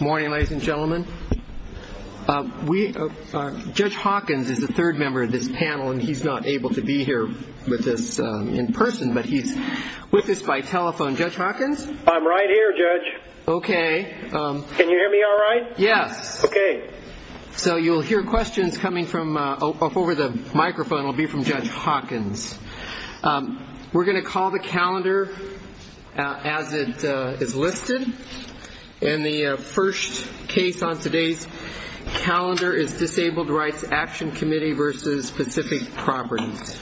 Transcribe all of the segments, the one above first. Morning, ladies and gentlemen. Judge Hawkins is the third member of this panel, and he's not able to be here with us in person, but he's with us by telephone. Judge Hawkins? I'm right here, Judge. Okay. Can you hear me all right? Yes. Okay. So you'll hear questions coming from over the microphone will be from Judge Hawkins. We're going to call the calendar as it is listed, and the first case on today's calendar is Disabled Rights Action Committee versus Pacific Properties.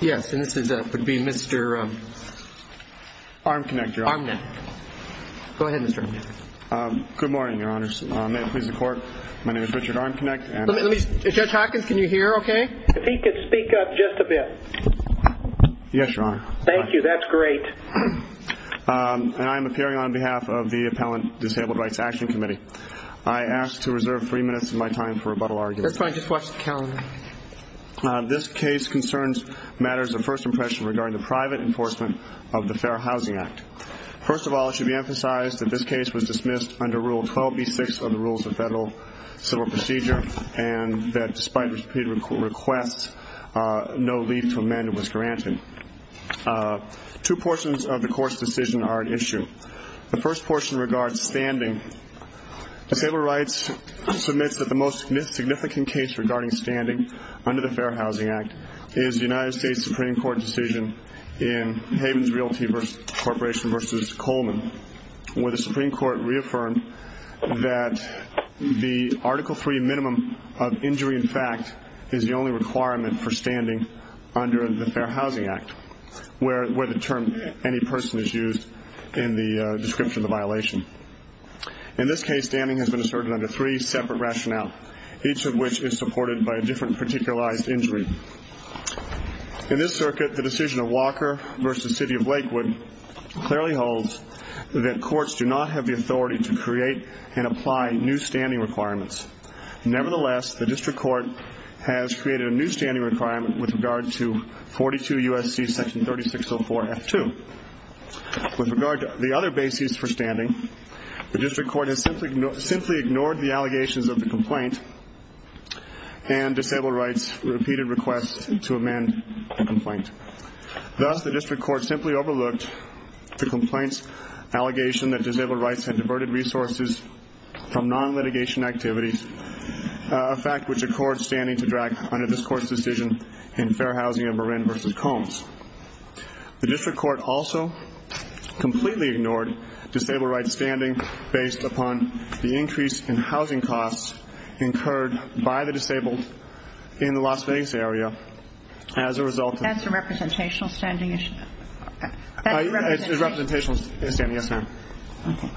Yes, and this would be Mr. Arm Connector. Good morning, Your Honors. May it please the Court, my name is Richard Arm Connector. Judge Hawkins, can you hear okay? If he could speak up just a bit. Yes, Your Honor. Thank you, that's great. And I am appearing on behalf of the Appellant Disabled Rights Action Committee. I ask to reserve three minutes of my time for rebuttal arguments. That's fine, just watch the calendar. This case concerns matters of first impression regarding the private enforcement of the Fair Housing Act. First of all, it should be emphasized that this case was dismissed under Rule 12B6 of the Rules of Federal Civil Procedure, and that despite repeated requests, no leave to amend was granted. Two portions of the court's decision are at issue. The first portion regards standing. Disabled Rights submits that the most significant case regarding standing under the Fair Housing Act is the United States Supreme Court decision in Havens Realty Corporation versus Coleman, where the Supreme Court reaffirmed that the Article III minimum of injury in fact is the only requirement for standing under the Fair Housing Act, where the term any person is used in the description of the violation. In this case, standing has been asserted under three separate rationale, each of which is supported by a different particularized injury. In this circuit, the decision of Walker versus City of Lakewood clearly holds that courts do not have the authority to create and apply new standing requirements. Nevertheless, the district court has created a new standing requirement with regard to 42 U.S.C. section 3604 F2. With regard to the other basis for standing, the district court has simply ignored the allegations of the complaint, and Disabled Rights repeated requests to amend the complaint. Thus, the district court simply overlooked the complaint's allegation that Disabled Rights had diverted resources from non-litigation activities, a fact which accords standing to drag under this court's decision in Fair Housing of Marin versus Combs. The district court also completely ignored Disabled Rights standing based upon the increase in housing costs incurred by the disabled in the Las Vegas area as a result of That's a representational standing issue? It's a representational standing, yes ma'am. Okay.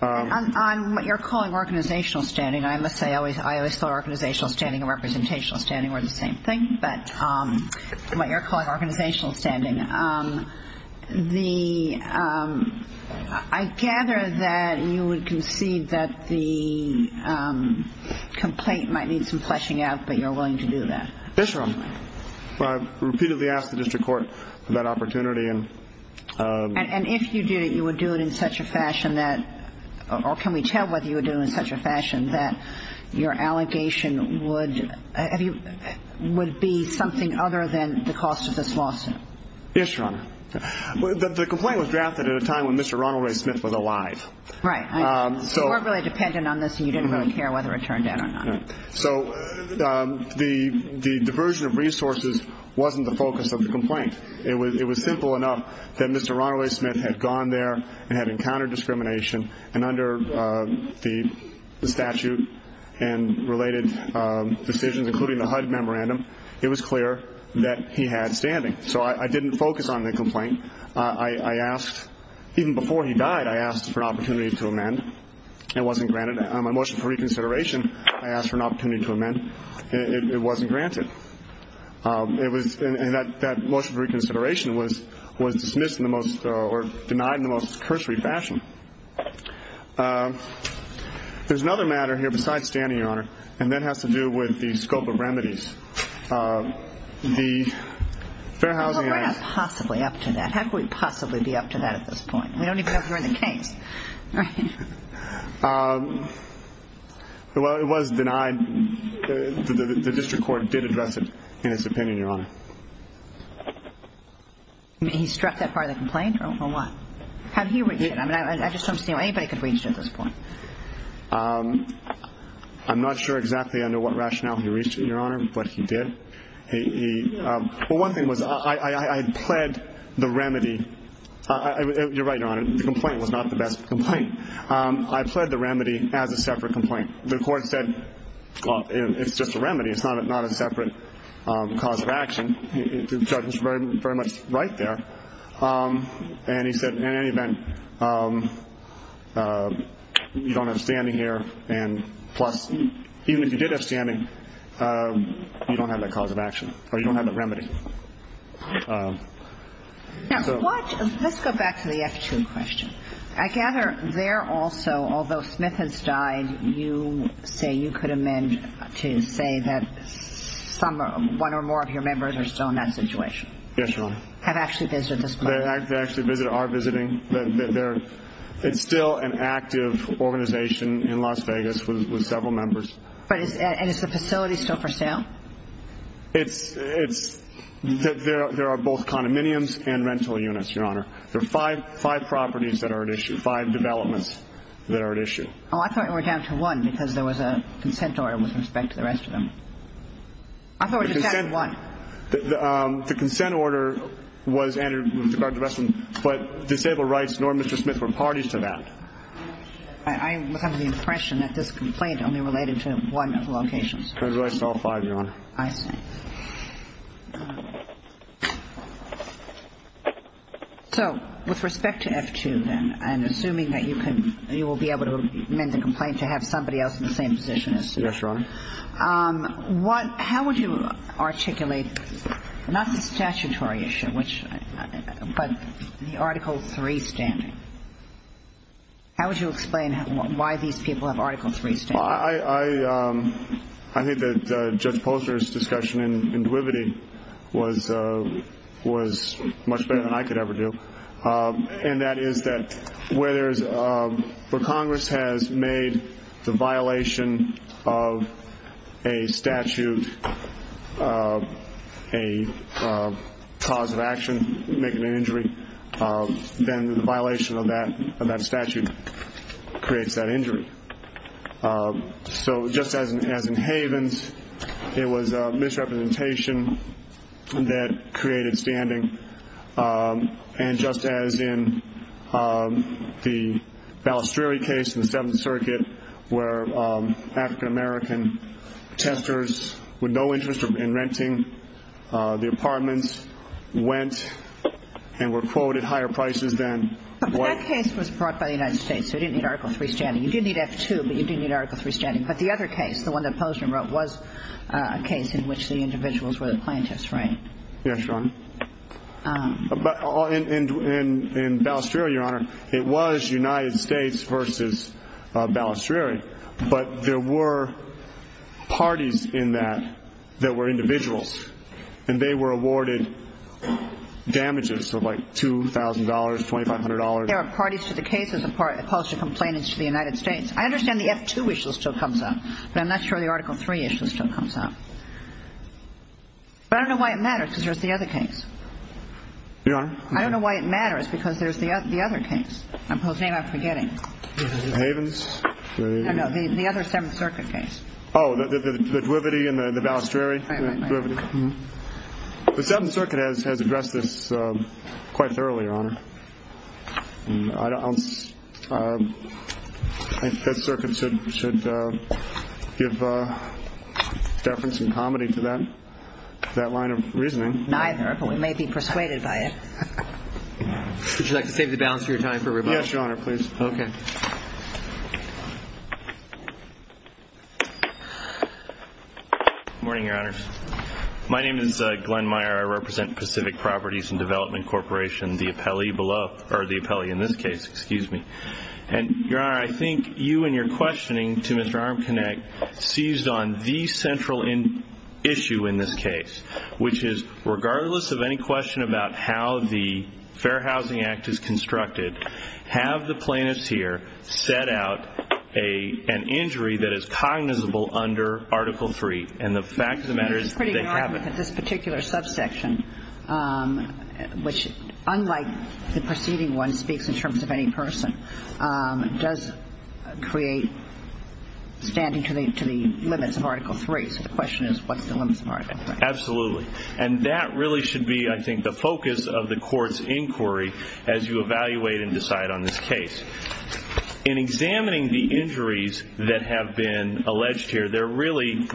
On what you're calling organizational standing, I must say I always thought organizational standing and representational standing were the same thing. But what you're calling organizational standing, I gather that you would concede that the complaint might need some fleshing out, but you're willing to do that? Yes, Your Honor. I've repeatedly asked the district court for that opportunity. And if you did it, you would do it in such a fashion that, or can we tell whether you would do it in such a fashion that your allegation would be something other than the cost of this lawsuit? Yes, Your Honor. The complaint was drafted at a time when Mr. Ronald Ray Smith was alive. Right. So you weren't really dependent on this and you didn't really care whether it turned out or not. So the diversion of resources wasn't the focus of the complaint. It was simple enough that Mr. Ronald Ray Smith had gone there and had encountered discrimination, and under the statute and related decisions, including the HUD memorandum, it was clear that he had standing. So I didn't focus on the complaint. I asked, even before he died, I asked for an opportunity to amend. It wasn't granted. On my motion for reconsideration, I asked for an opportunity to amend. It wasn't granted. And that motion for reconsideration was dismissed in the most, or denied in the most cursory fashion. There's another matter here besides standing, Your Honor, and that has to do with the scope of remedies. The Fair Housing Act. Well, we're not possibly up to that. How could we possibly be up to that at this point? We don't even know if we're in the case. Well, it was denied. The district court did address it in its opinion, Your Honor. He struck that part of the complaint, or what? How did he reach it? I just don't see how anybody could reach it at this point. I'm not sure exactly under what rationale he reached it, Your Honor, but he did. Well, one thing was I had pled the remedy. You're right, Your Honor. The complaint was not the best complaint. I pled the remedy as a separate complaint. The court said, well, it's just a remedy. It's not a separate cause of action. The judge was very much right there. And he said, in any event, you don't have standing here. And plus, even if you did have standing, you don't have that cause of action, or you don't have that remedy. Now, let's go back to the F2 question. I gather there also, although Smith has died, you say you could amend to say that one or more of your members are still in that situation. Yes, Your Honor. Have actually visited this place. They actually are visiting. It's still an active organization in Las Vegas with several members. And is the facility still for sale? There are both condominiums and rental units, Your Honor. There are five properties that are at issue, five developments that are at issue. Oh, I thought it were down to one because there was a consent order with respect to the rest of them. I thought it was just down to one. The consent order was entered with regard to the rest of them, but disabled rights nor Mr. Smith were parties to that. I was under the impression that this complaint only related to one of the locations. As far as I saw, five, Your Honor. I see. So with respect to F2, then, I'm assuming that you will be able to amend the complaint to have somebody else in the same position as you. Yes, Your Honor. How would you articulate not the statutory issue, but the Article III standing? How would you explain why these people have Article III standing? Well, I think that Judge Poster's discussion in Duvivity was much better than I could ever do, and that is that where Congress has made the violation of a statute a cause of action, making an injury, then the violation of that statute creates that injury. So just as in Havens, it was misrepresentation that created standing, and just as in the Balestrieri case in the Seventh Circuit where African-American testers with no interest in renting the apartments went and were quoted higher prices than white people. That case was brought by the United States, so it didn't need Article III standing. You did need F2, but you didn't need Article III standing. But the other case, the one that Poster wrote, was a case in which the individuals were the plaintiffs, right? Yes, Your Honor. In Balestrieri, Your Honor, it was United States versus Balestrieri, but there were parties in that that were individuals, and they were awarded damages of like $2,000, $2,500. There were parties to the case as opposed to complainants to the United States. I understand the F2 issue still comes up, but I'm not sure the Article III issue still comes up. But I don't know why it matters because there's the other case. Your Honor? I don't know why it matters because there's the other case. I'm forgetting. The Havens? No, no, the other Seventh Circuit case. Oh, the Dwivedi and the Balestrieri? Right, right, right. The Seventh Circuit has addressed this quite thoroughly, Your Honor. I think the Fifth Circuit should give deference and comedy to that line of reasoning. Neither, but we may be persuaded by it. Would you like to save the balance of your time for rebuttal? Yes, Your Honor, please. Okay. Good morning, Your Honor. My name is Glenn Meyer. I represent Pacific Properties and Development Corporation, the appellee in this case. And, Your Honor, I think you in your questioning to Mr. Armconecht seized on the central issue in this case, which is regardless of any question about how the Fair Housing Act is constructed, have the plaintiffs here set out an injury that is cognizable under Article III. And the fact of the matter is they haven't. It's pretty hard with this particular subsection, which unlike the preceding one speaks in terms of any person, does create standing to the limits of Article III. So the question is, what's the limits of Article III? Absolutely. And that really should be, I think, the focus of the court's inquiry as you evaluate and decide on this case. In examining the injuries that have been alleged here, they're really,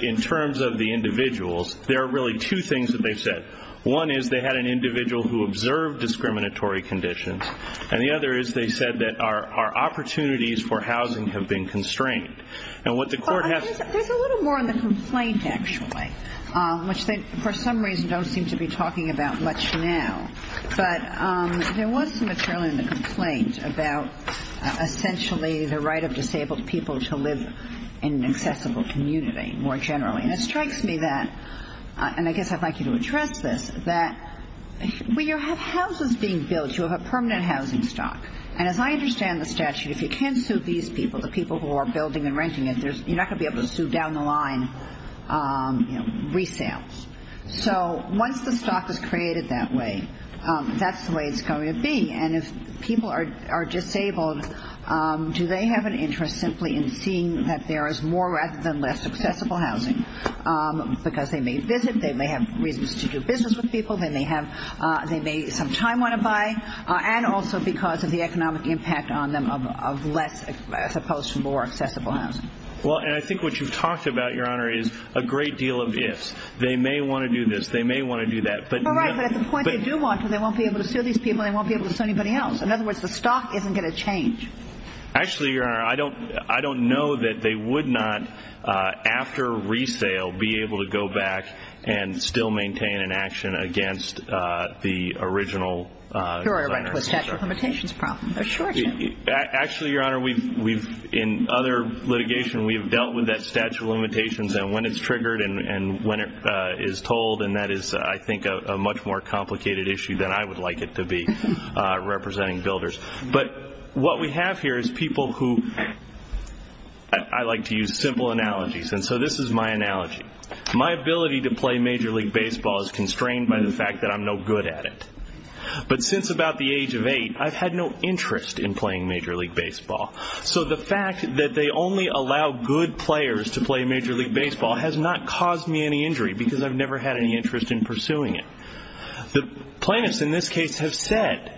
in terms of the individuals, there are really two things that they've said. One is they had an individual who observed discriminatory conditions. And the other is they said that our opportunities for housing have been constrained. And what the court has to say. Which they, for some reason, don't seem to be talking about much now. But there was some material in the complaint about essentially the right of disabled people to live in an accessible community more generally. And it strikes me that, and I guess I'd like you to address this, that when you have houses being built, you have a permanent housing stock. And as I understand the statute, if you can't sue these people, the people who are building and renting it, you're not going to be able to sue down the line resales. So once the stock is created that way, that's the way it's going to be. And if people are disabled, do they have an interest simply in seeing that there is more rather than less accessible housing? Because they may visit, they may have reasons to do business with people, they may have some time they want to buy, and also because of the economic impact on them of less as opposed to more accessible housing. Well, and I think what you've talked about, Your Honor, is a great deal of ifs. They may want to do this, they may want to do that. All right, but at the point they do want to, they won't be able to sue these people, they won't be able to sue anybody else. In other words, the stock isn't going to change. Actually, Your Honor, I don't know that they would not, after resale, be able to go back and still maintain an action against the original designer. Here I run into a statute of limitations problem. Actually, Your Honor, in other litigation we've dealt with that statute of limitations and when it's triggered and when it is told, and that is, I think, a much more complicated issue than I would like it to be, representing builders. But what we have here is people who, I like to use simple analogies, and so this is my analogy. My ability to play Major League Baseball is constrained by the fact that I'm no good at it. But since about the age of eight, I've had no interest in playing Major League Baseball. So the fact that they only allow good players to play Major League Baseball has not caused me any injury because I've never had any interest in pursuing it. The plaintiffs in this case have said,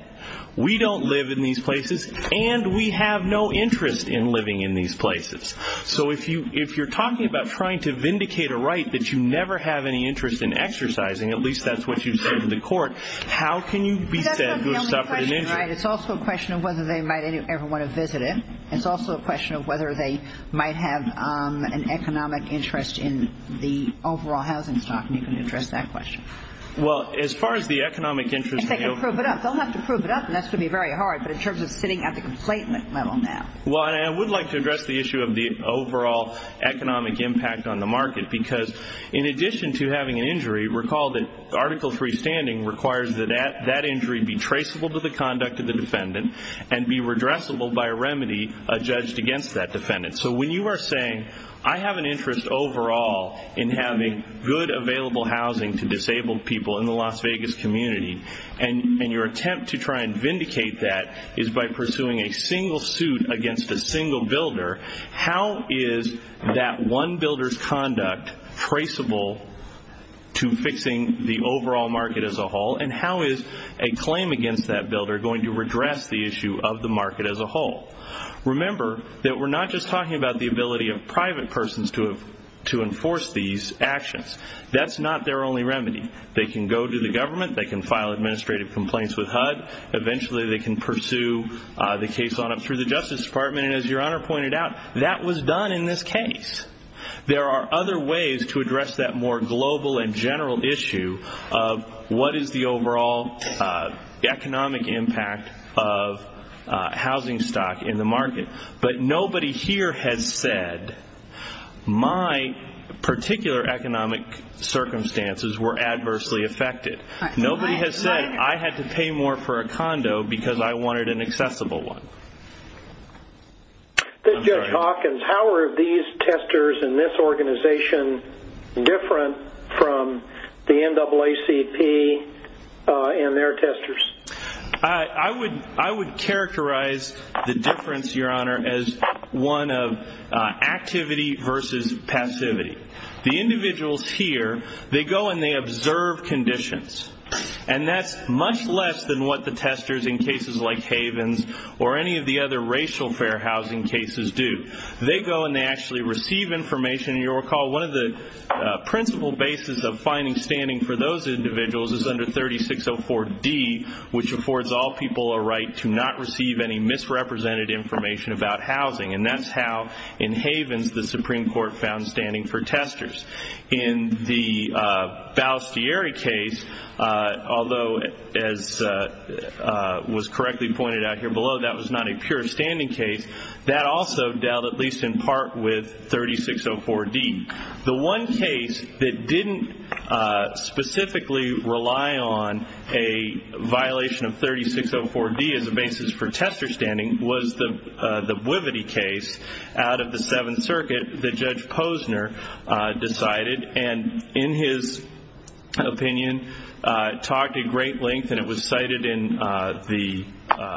we don't live in these places and we have no interest in living in these places. So if you're talking about trying to vindicate a right that you never have any interest in exercising, at least that's what you've said in the court, how can you be said to have suffered an injury? But that's not the only question, right? It's also a question of whether they might ever want to visit it. It's also a question of whether they might have an economic interest in the overall housing stock, and you can address that question. Well, as far as the economic interest in the overall housing stock. They'll have to prove it up, and that's going to be very hard, but in terms of sitting at the complaint level now. Well, I would like to address the issue of the overall economic impact on the market because in addition to having an injury, recall that Article III standing requires that that injury be traceable to the conduct of the defendant and be redressable by a remedy judged against that defendant. So when you are saying, I have an interest overall in having good available housing to disabled people in the Las Vegas community, and your attempt to try and vindicate that is by pursuing a single suit against a single builder, how is that one builder's conduct traceable to fixing the overall market as a whole, and how is a claim against that builder going to redress the issue of the market as a whole? Remember that we're not just talking about the ability of private persons to enforce these actions. That's not their only remedy. They can go to the government. They can file administrative complaints with HUD. Eventually they can pursue the case on up through the Justice Department, and as Your Honor pointed out, that was done in this case. There are other ways to address that more global and general issue of what is the overall economic impact of housing stock in the market, but nobody here has said my particular economic circumstances were adversely affected. Nobody has said I had to pay more for a condo because I wanted an accessible one. Judge Hawkins, how are these testers in this organization different from the NAACP and their testers? I would characterize the difference, Your Honor, as one of activity versus passivity. The individuals here, they go and they observe conditions, and that's much less than what the testers in cases like Havens or any of the other racial fair housing cases do. They go and they actually receive information. You'll recall one of the principal bases of finding standing for those individuals is under 3604D, which affords all people a right to not receive any misrepresented information about housing, and that's how, in Havens, the Supreme Court found standing for testers. In the Balestieri case, although, as was correctly pointed out here below, that was not a pure standing case, that also dealt at least in part with 3604D. The one case that didn't specifically rely on a violation of 3604D as a basis for tester standing was the Boivety case out of the Seventh Circuit that Judge Posner decided and, in his opinion, talked at great length, and it was cited in the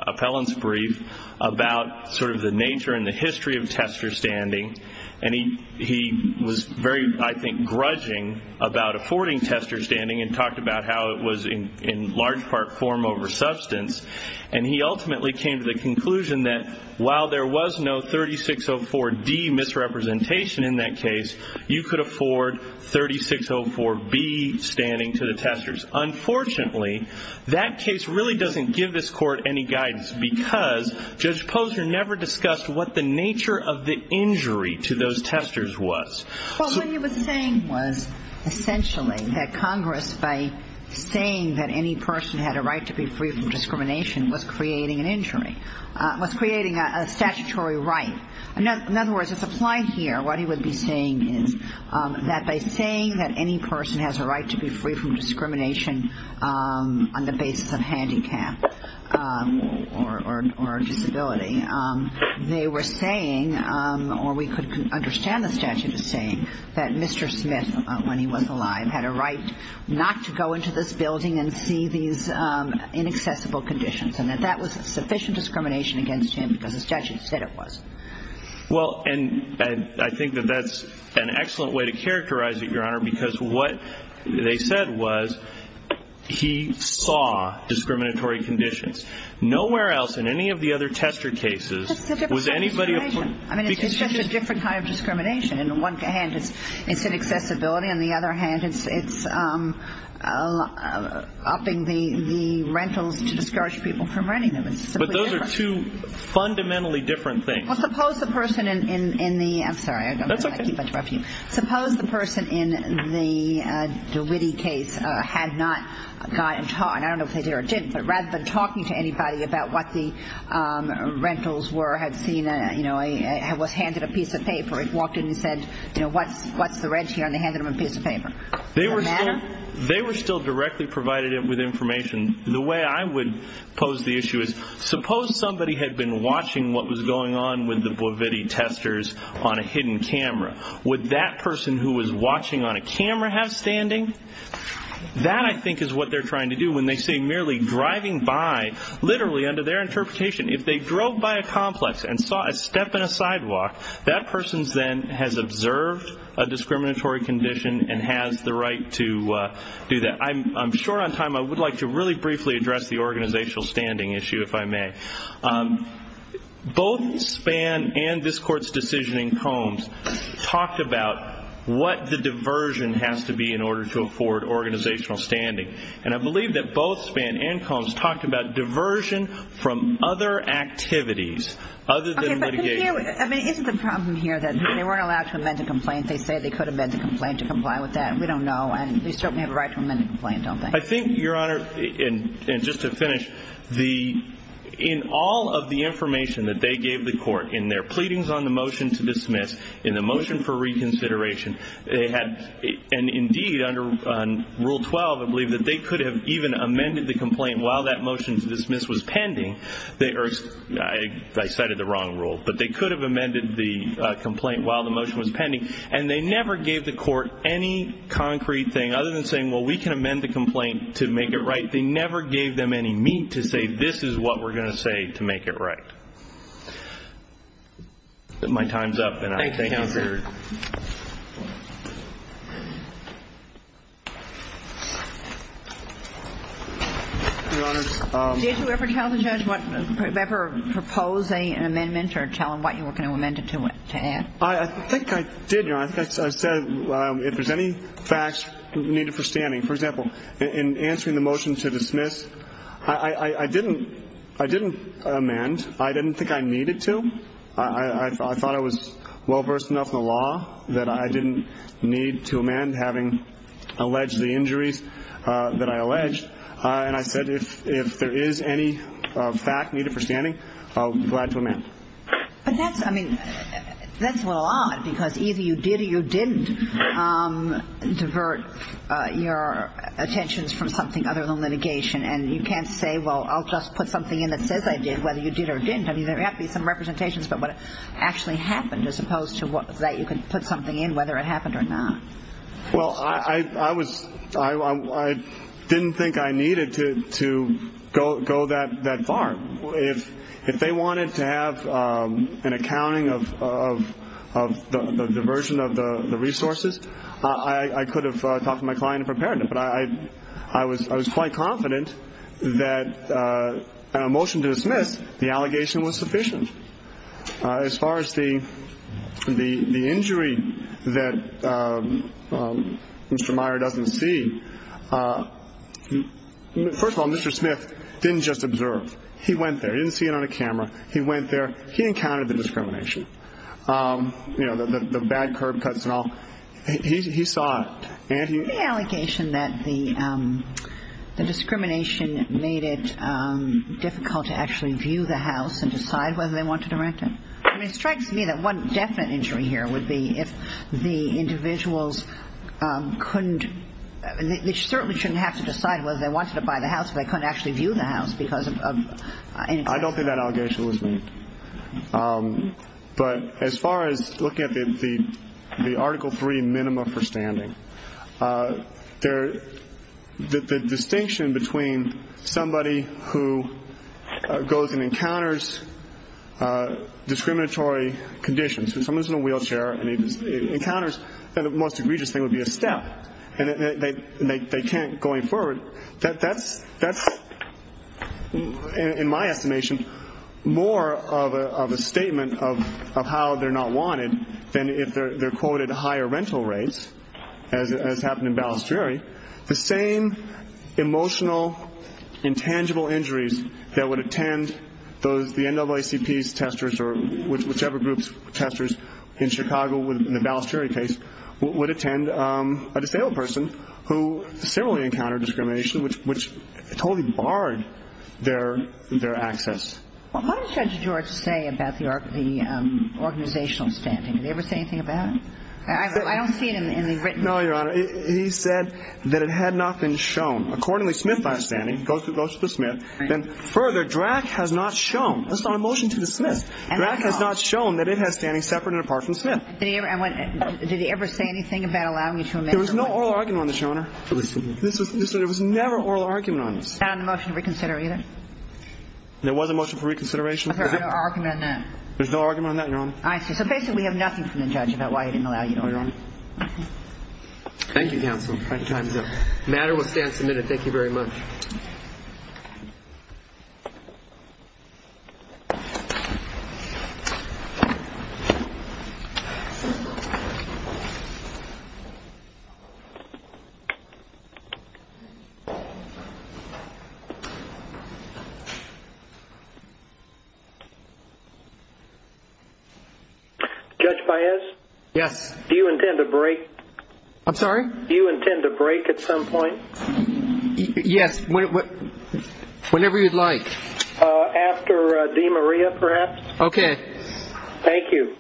appellant's brief, about sort of the nature and the history of tester standing, and he was very, I think, grudging about affording tester standing and talked about how it was in large part form over substance, and he ultimately came to the conclusion that while there was no 3604D misrepresentation in that case, you could afford 3604B standing to the testers. Unfortunately, that case really doesn't give this Court any guidance because Judge Posner never discussed what the nature of the injury to those testers was. Well, what he was saying was essentially that Congress, by saying that any person had a right to be free from discrimination, was creating an injury, was creating a statutory right. In other words, it's applied here. What he would be saying is that by saying that any person has a right to be free from discrimination on the basis of handicap or disability, they were saying, or we could understand the statute as saying that Mr. Smith, when he was alive, had a right not to go into this building and see these inaccessible conditions and that that was sufficient discrimination against him because the statute said it was. Well, and I think that that's an excellent way to characterize it, Your Honor, because what they said was he saw discriminatory conditions. Nowhere else in any of the other tester cases was anybody... I mean, it's just a different kind of discrimination. In one hand, it's inaccessibility. On the other hand, it's upping the rentals to discourage people from renting them. But those are two fundamentally different things. Well, suppose the person in the... I'm sorry. That's okay. I don't want to keep interrupting you. Suppose the person in the DeWitty case had not gotten taught, and I don't know if they did or didn't, but rather than talking to anybody about what the rentals were, had seen, you know, was handed a piece of paper, walked in and said, you know, what's the rent here? And they handed him a piece of paper. Does that matter? They were still directly provided with information. The way I would pose the issue is, suppose somebody had been watching what was going on with the Boviti testers on a hidden camera. Would that person who was watching on a camera have standing? That, I think, is what they're trying to do when they say merely driving by, literally under their interpretation, if they drove by a complex and saw a step in a sidewalk, that person then has observed a discriminatory condition and has the right to do that. I'm short on time. I would like to really briefly address the organizational standing issue, if I may. Both Spann and this Court's decision in Combs talked about what the diversion has to be in order to afford organizational standing, and I believe that both Spann and Combs talked about diversion from other activities other than litigation. I mean, isn't the problem here that they weren't allowed to amend the complaint? They say they could amend the complaint to comply with that, and we don't know, and they certainly have a right to amend the complaint, don't they? I think, Your Honor, and just to finish, in all of the information that they gave the Court in their pleadings on the motion to dismiss, in the motion for reconsideration, and indeed under Rule 12, I believe, I cited the wrong rule, but they could have amended the complaint while the motion was pending, and they never gave the Court any concrete thing other than saying, well, we can amend the complaint to make it right. They never gave them any meat to say this is what we're going to say to make it right. My time's up, and I thank you for your time. Thank you, Counselor. Your Honor. Did you ever tell the judge what you ever proposed an amendment or tell him what you were going to amend it to add? I think I did, Your Honor. I said if there's any facts needed for standing. For example, in answering the motion to dismiss, I didn't amend. I didn't think I needed to. I thought I was well-versed enough in the law that I didn't need to amend having alleged the injuries that I alleged. And I said if there is any fact needed for standing, I'll be glad to amend. But that's, I mean, that's a little odd, because either you did or you didn't divert your attentions from something other than litigation, and you can't say, well, I'll just put something in that says I did, whether you did or didn't. I mean, there have to be some representations about what actually happened as opposed to that you can put something in whether it happened or not. Well, I was, I didn't think I needed to go that far. If they wanted to have an accounting of the diversion of the resources, I could have talked to my client and prepared it. But I was quite confident that a motion to dismiss, the allegation was sufficient. As far as the injury that Mr. Meyer doesn't see, first of all, Mr. Smith didn't just observe. He went there. He didn't see it on a camera. He went there. He encountered the discrimination, you know, the bad curb cuts and all. He saw it. The allegation that the discrimination made it difficult to actually view the house and decide whether they wanted to rent it. I mean, it strikes me that one definite injury here would be if the individuals couldn't, they certainly shouldn't have to decide whether they wanted to buy the house if they couldn't actually view the house because of. I don't think that allegation was made. But as far as looking at the Article III minima for standing, the distinction between somebody who goes and encounters discriminatory conditions. If someone's in a wheelchair and encounters, then the most egregious thing would be a step. And they can't going forward. That's, in my estimation, more of a statement of how they're not wanted than if they're quoted higher rental rates, as happened in Balestrieri. The same emotional, intangible injuries that would attend the NAACP's testers or whichever group's testers in Chicago in the Balestrieri case would attend a disabled person who similarly encountered discrimination, which totally barred their access. Well, what did Judge George say about the organizational standing? Did he ever say anything about it? I don't see it in the written. No, Your Honor. He said that it had not been shown. Accordingly, Smith, by standing, goes to Smith. Then further, Drack has not shown. That's not a motion to dismiss. Drack has not shown that it has standing separate and apart from Smith. Did he ever say anything about allowing you to amend the motion? There was no oral argument on this, Your Honor. There was never oral argument on this. Not on the motion to reconsider either? There was a motion for reconsideration. There's no argument on that? There's no argument on that, Your Honor. I see. So basically, we have nothing from the judge about why he didn't allow you to amend it. Thank you, counsel. Time's up. The matter will stand submitted. Thank you very much. Judge Baez? Yes. Do you intend to break? I'm sorry? Do you intend to break at some point? Yes, whenever you'd like. After DeMaria, perhaps? Okay. Thank you.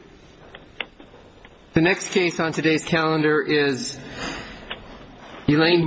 The next case on today's calendar is Elaine Barron.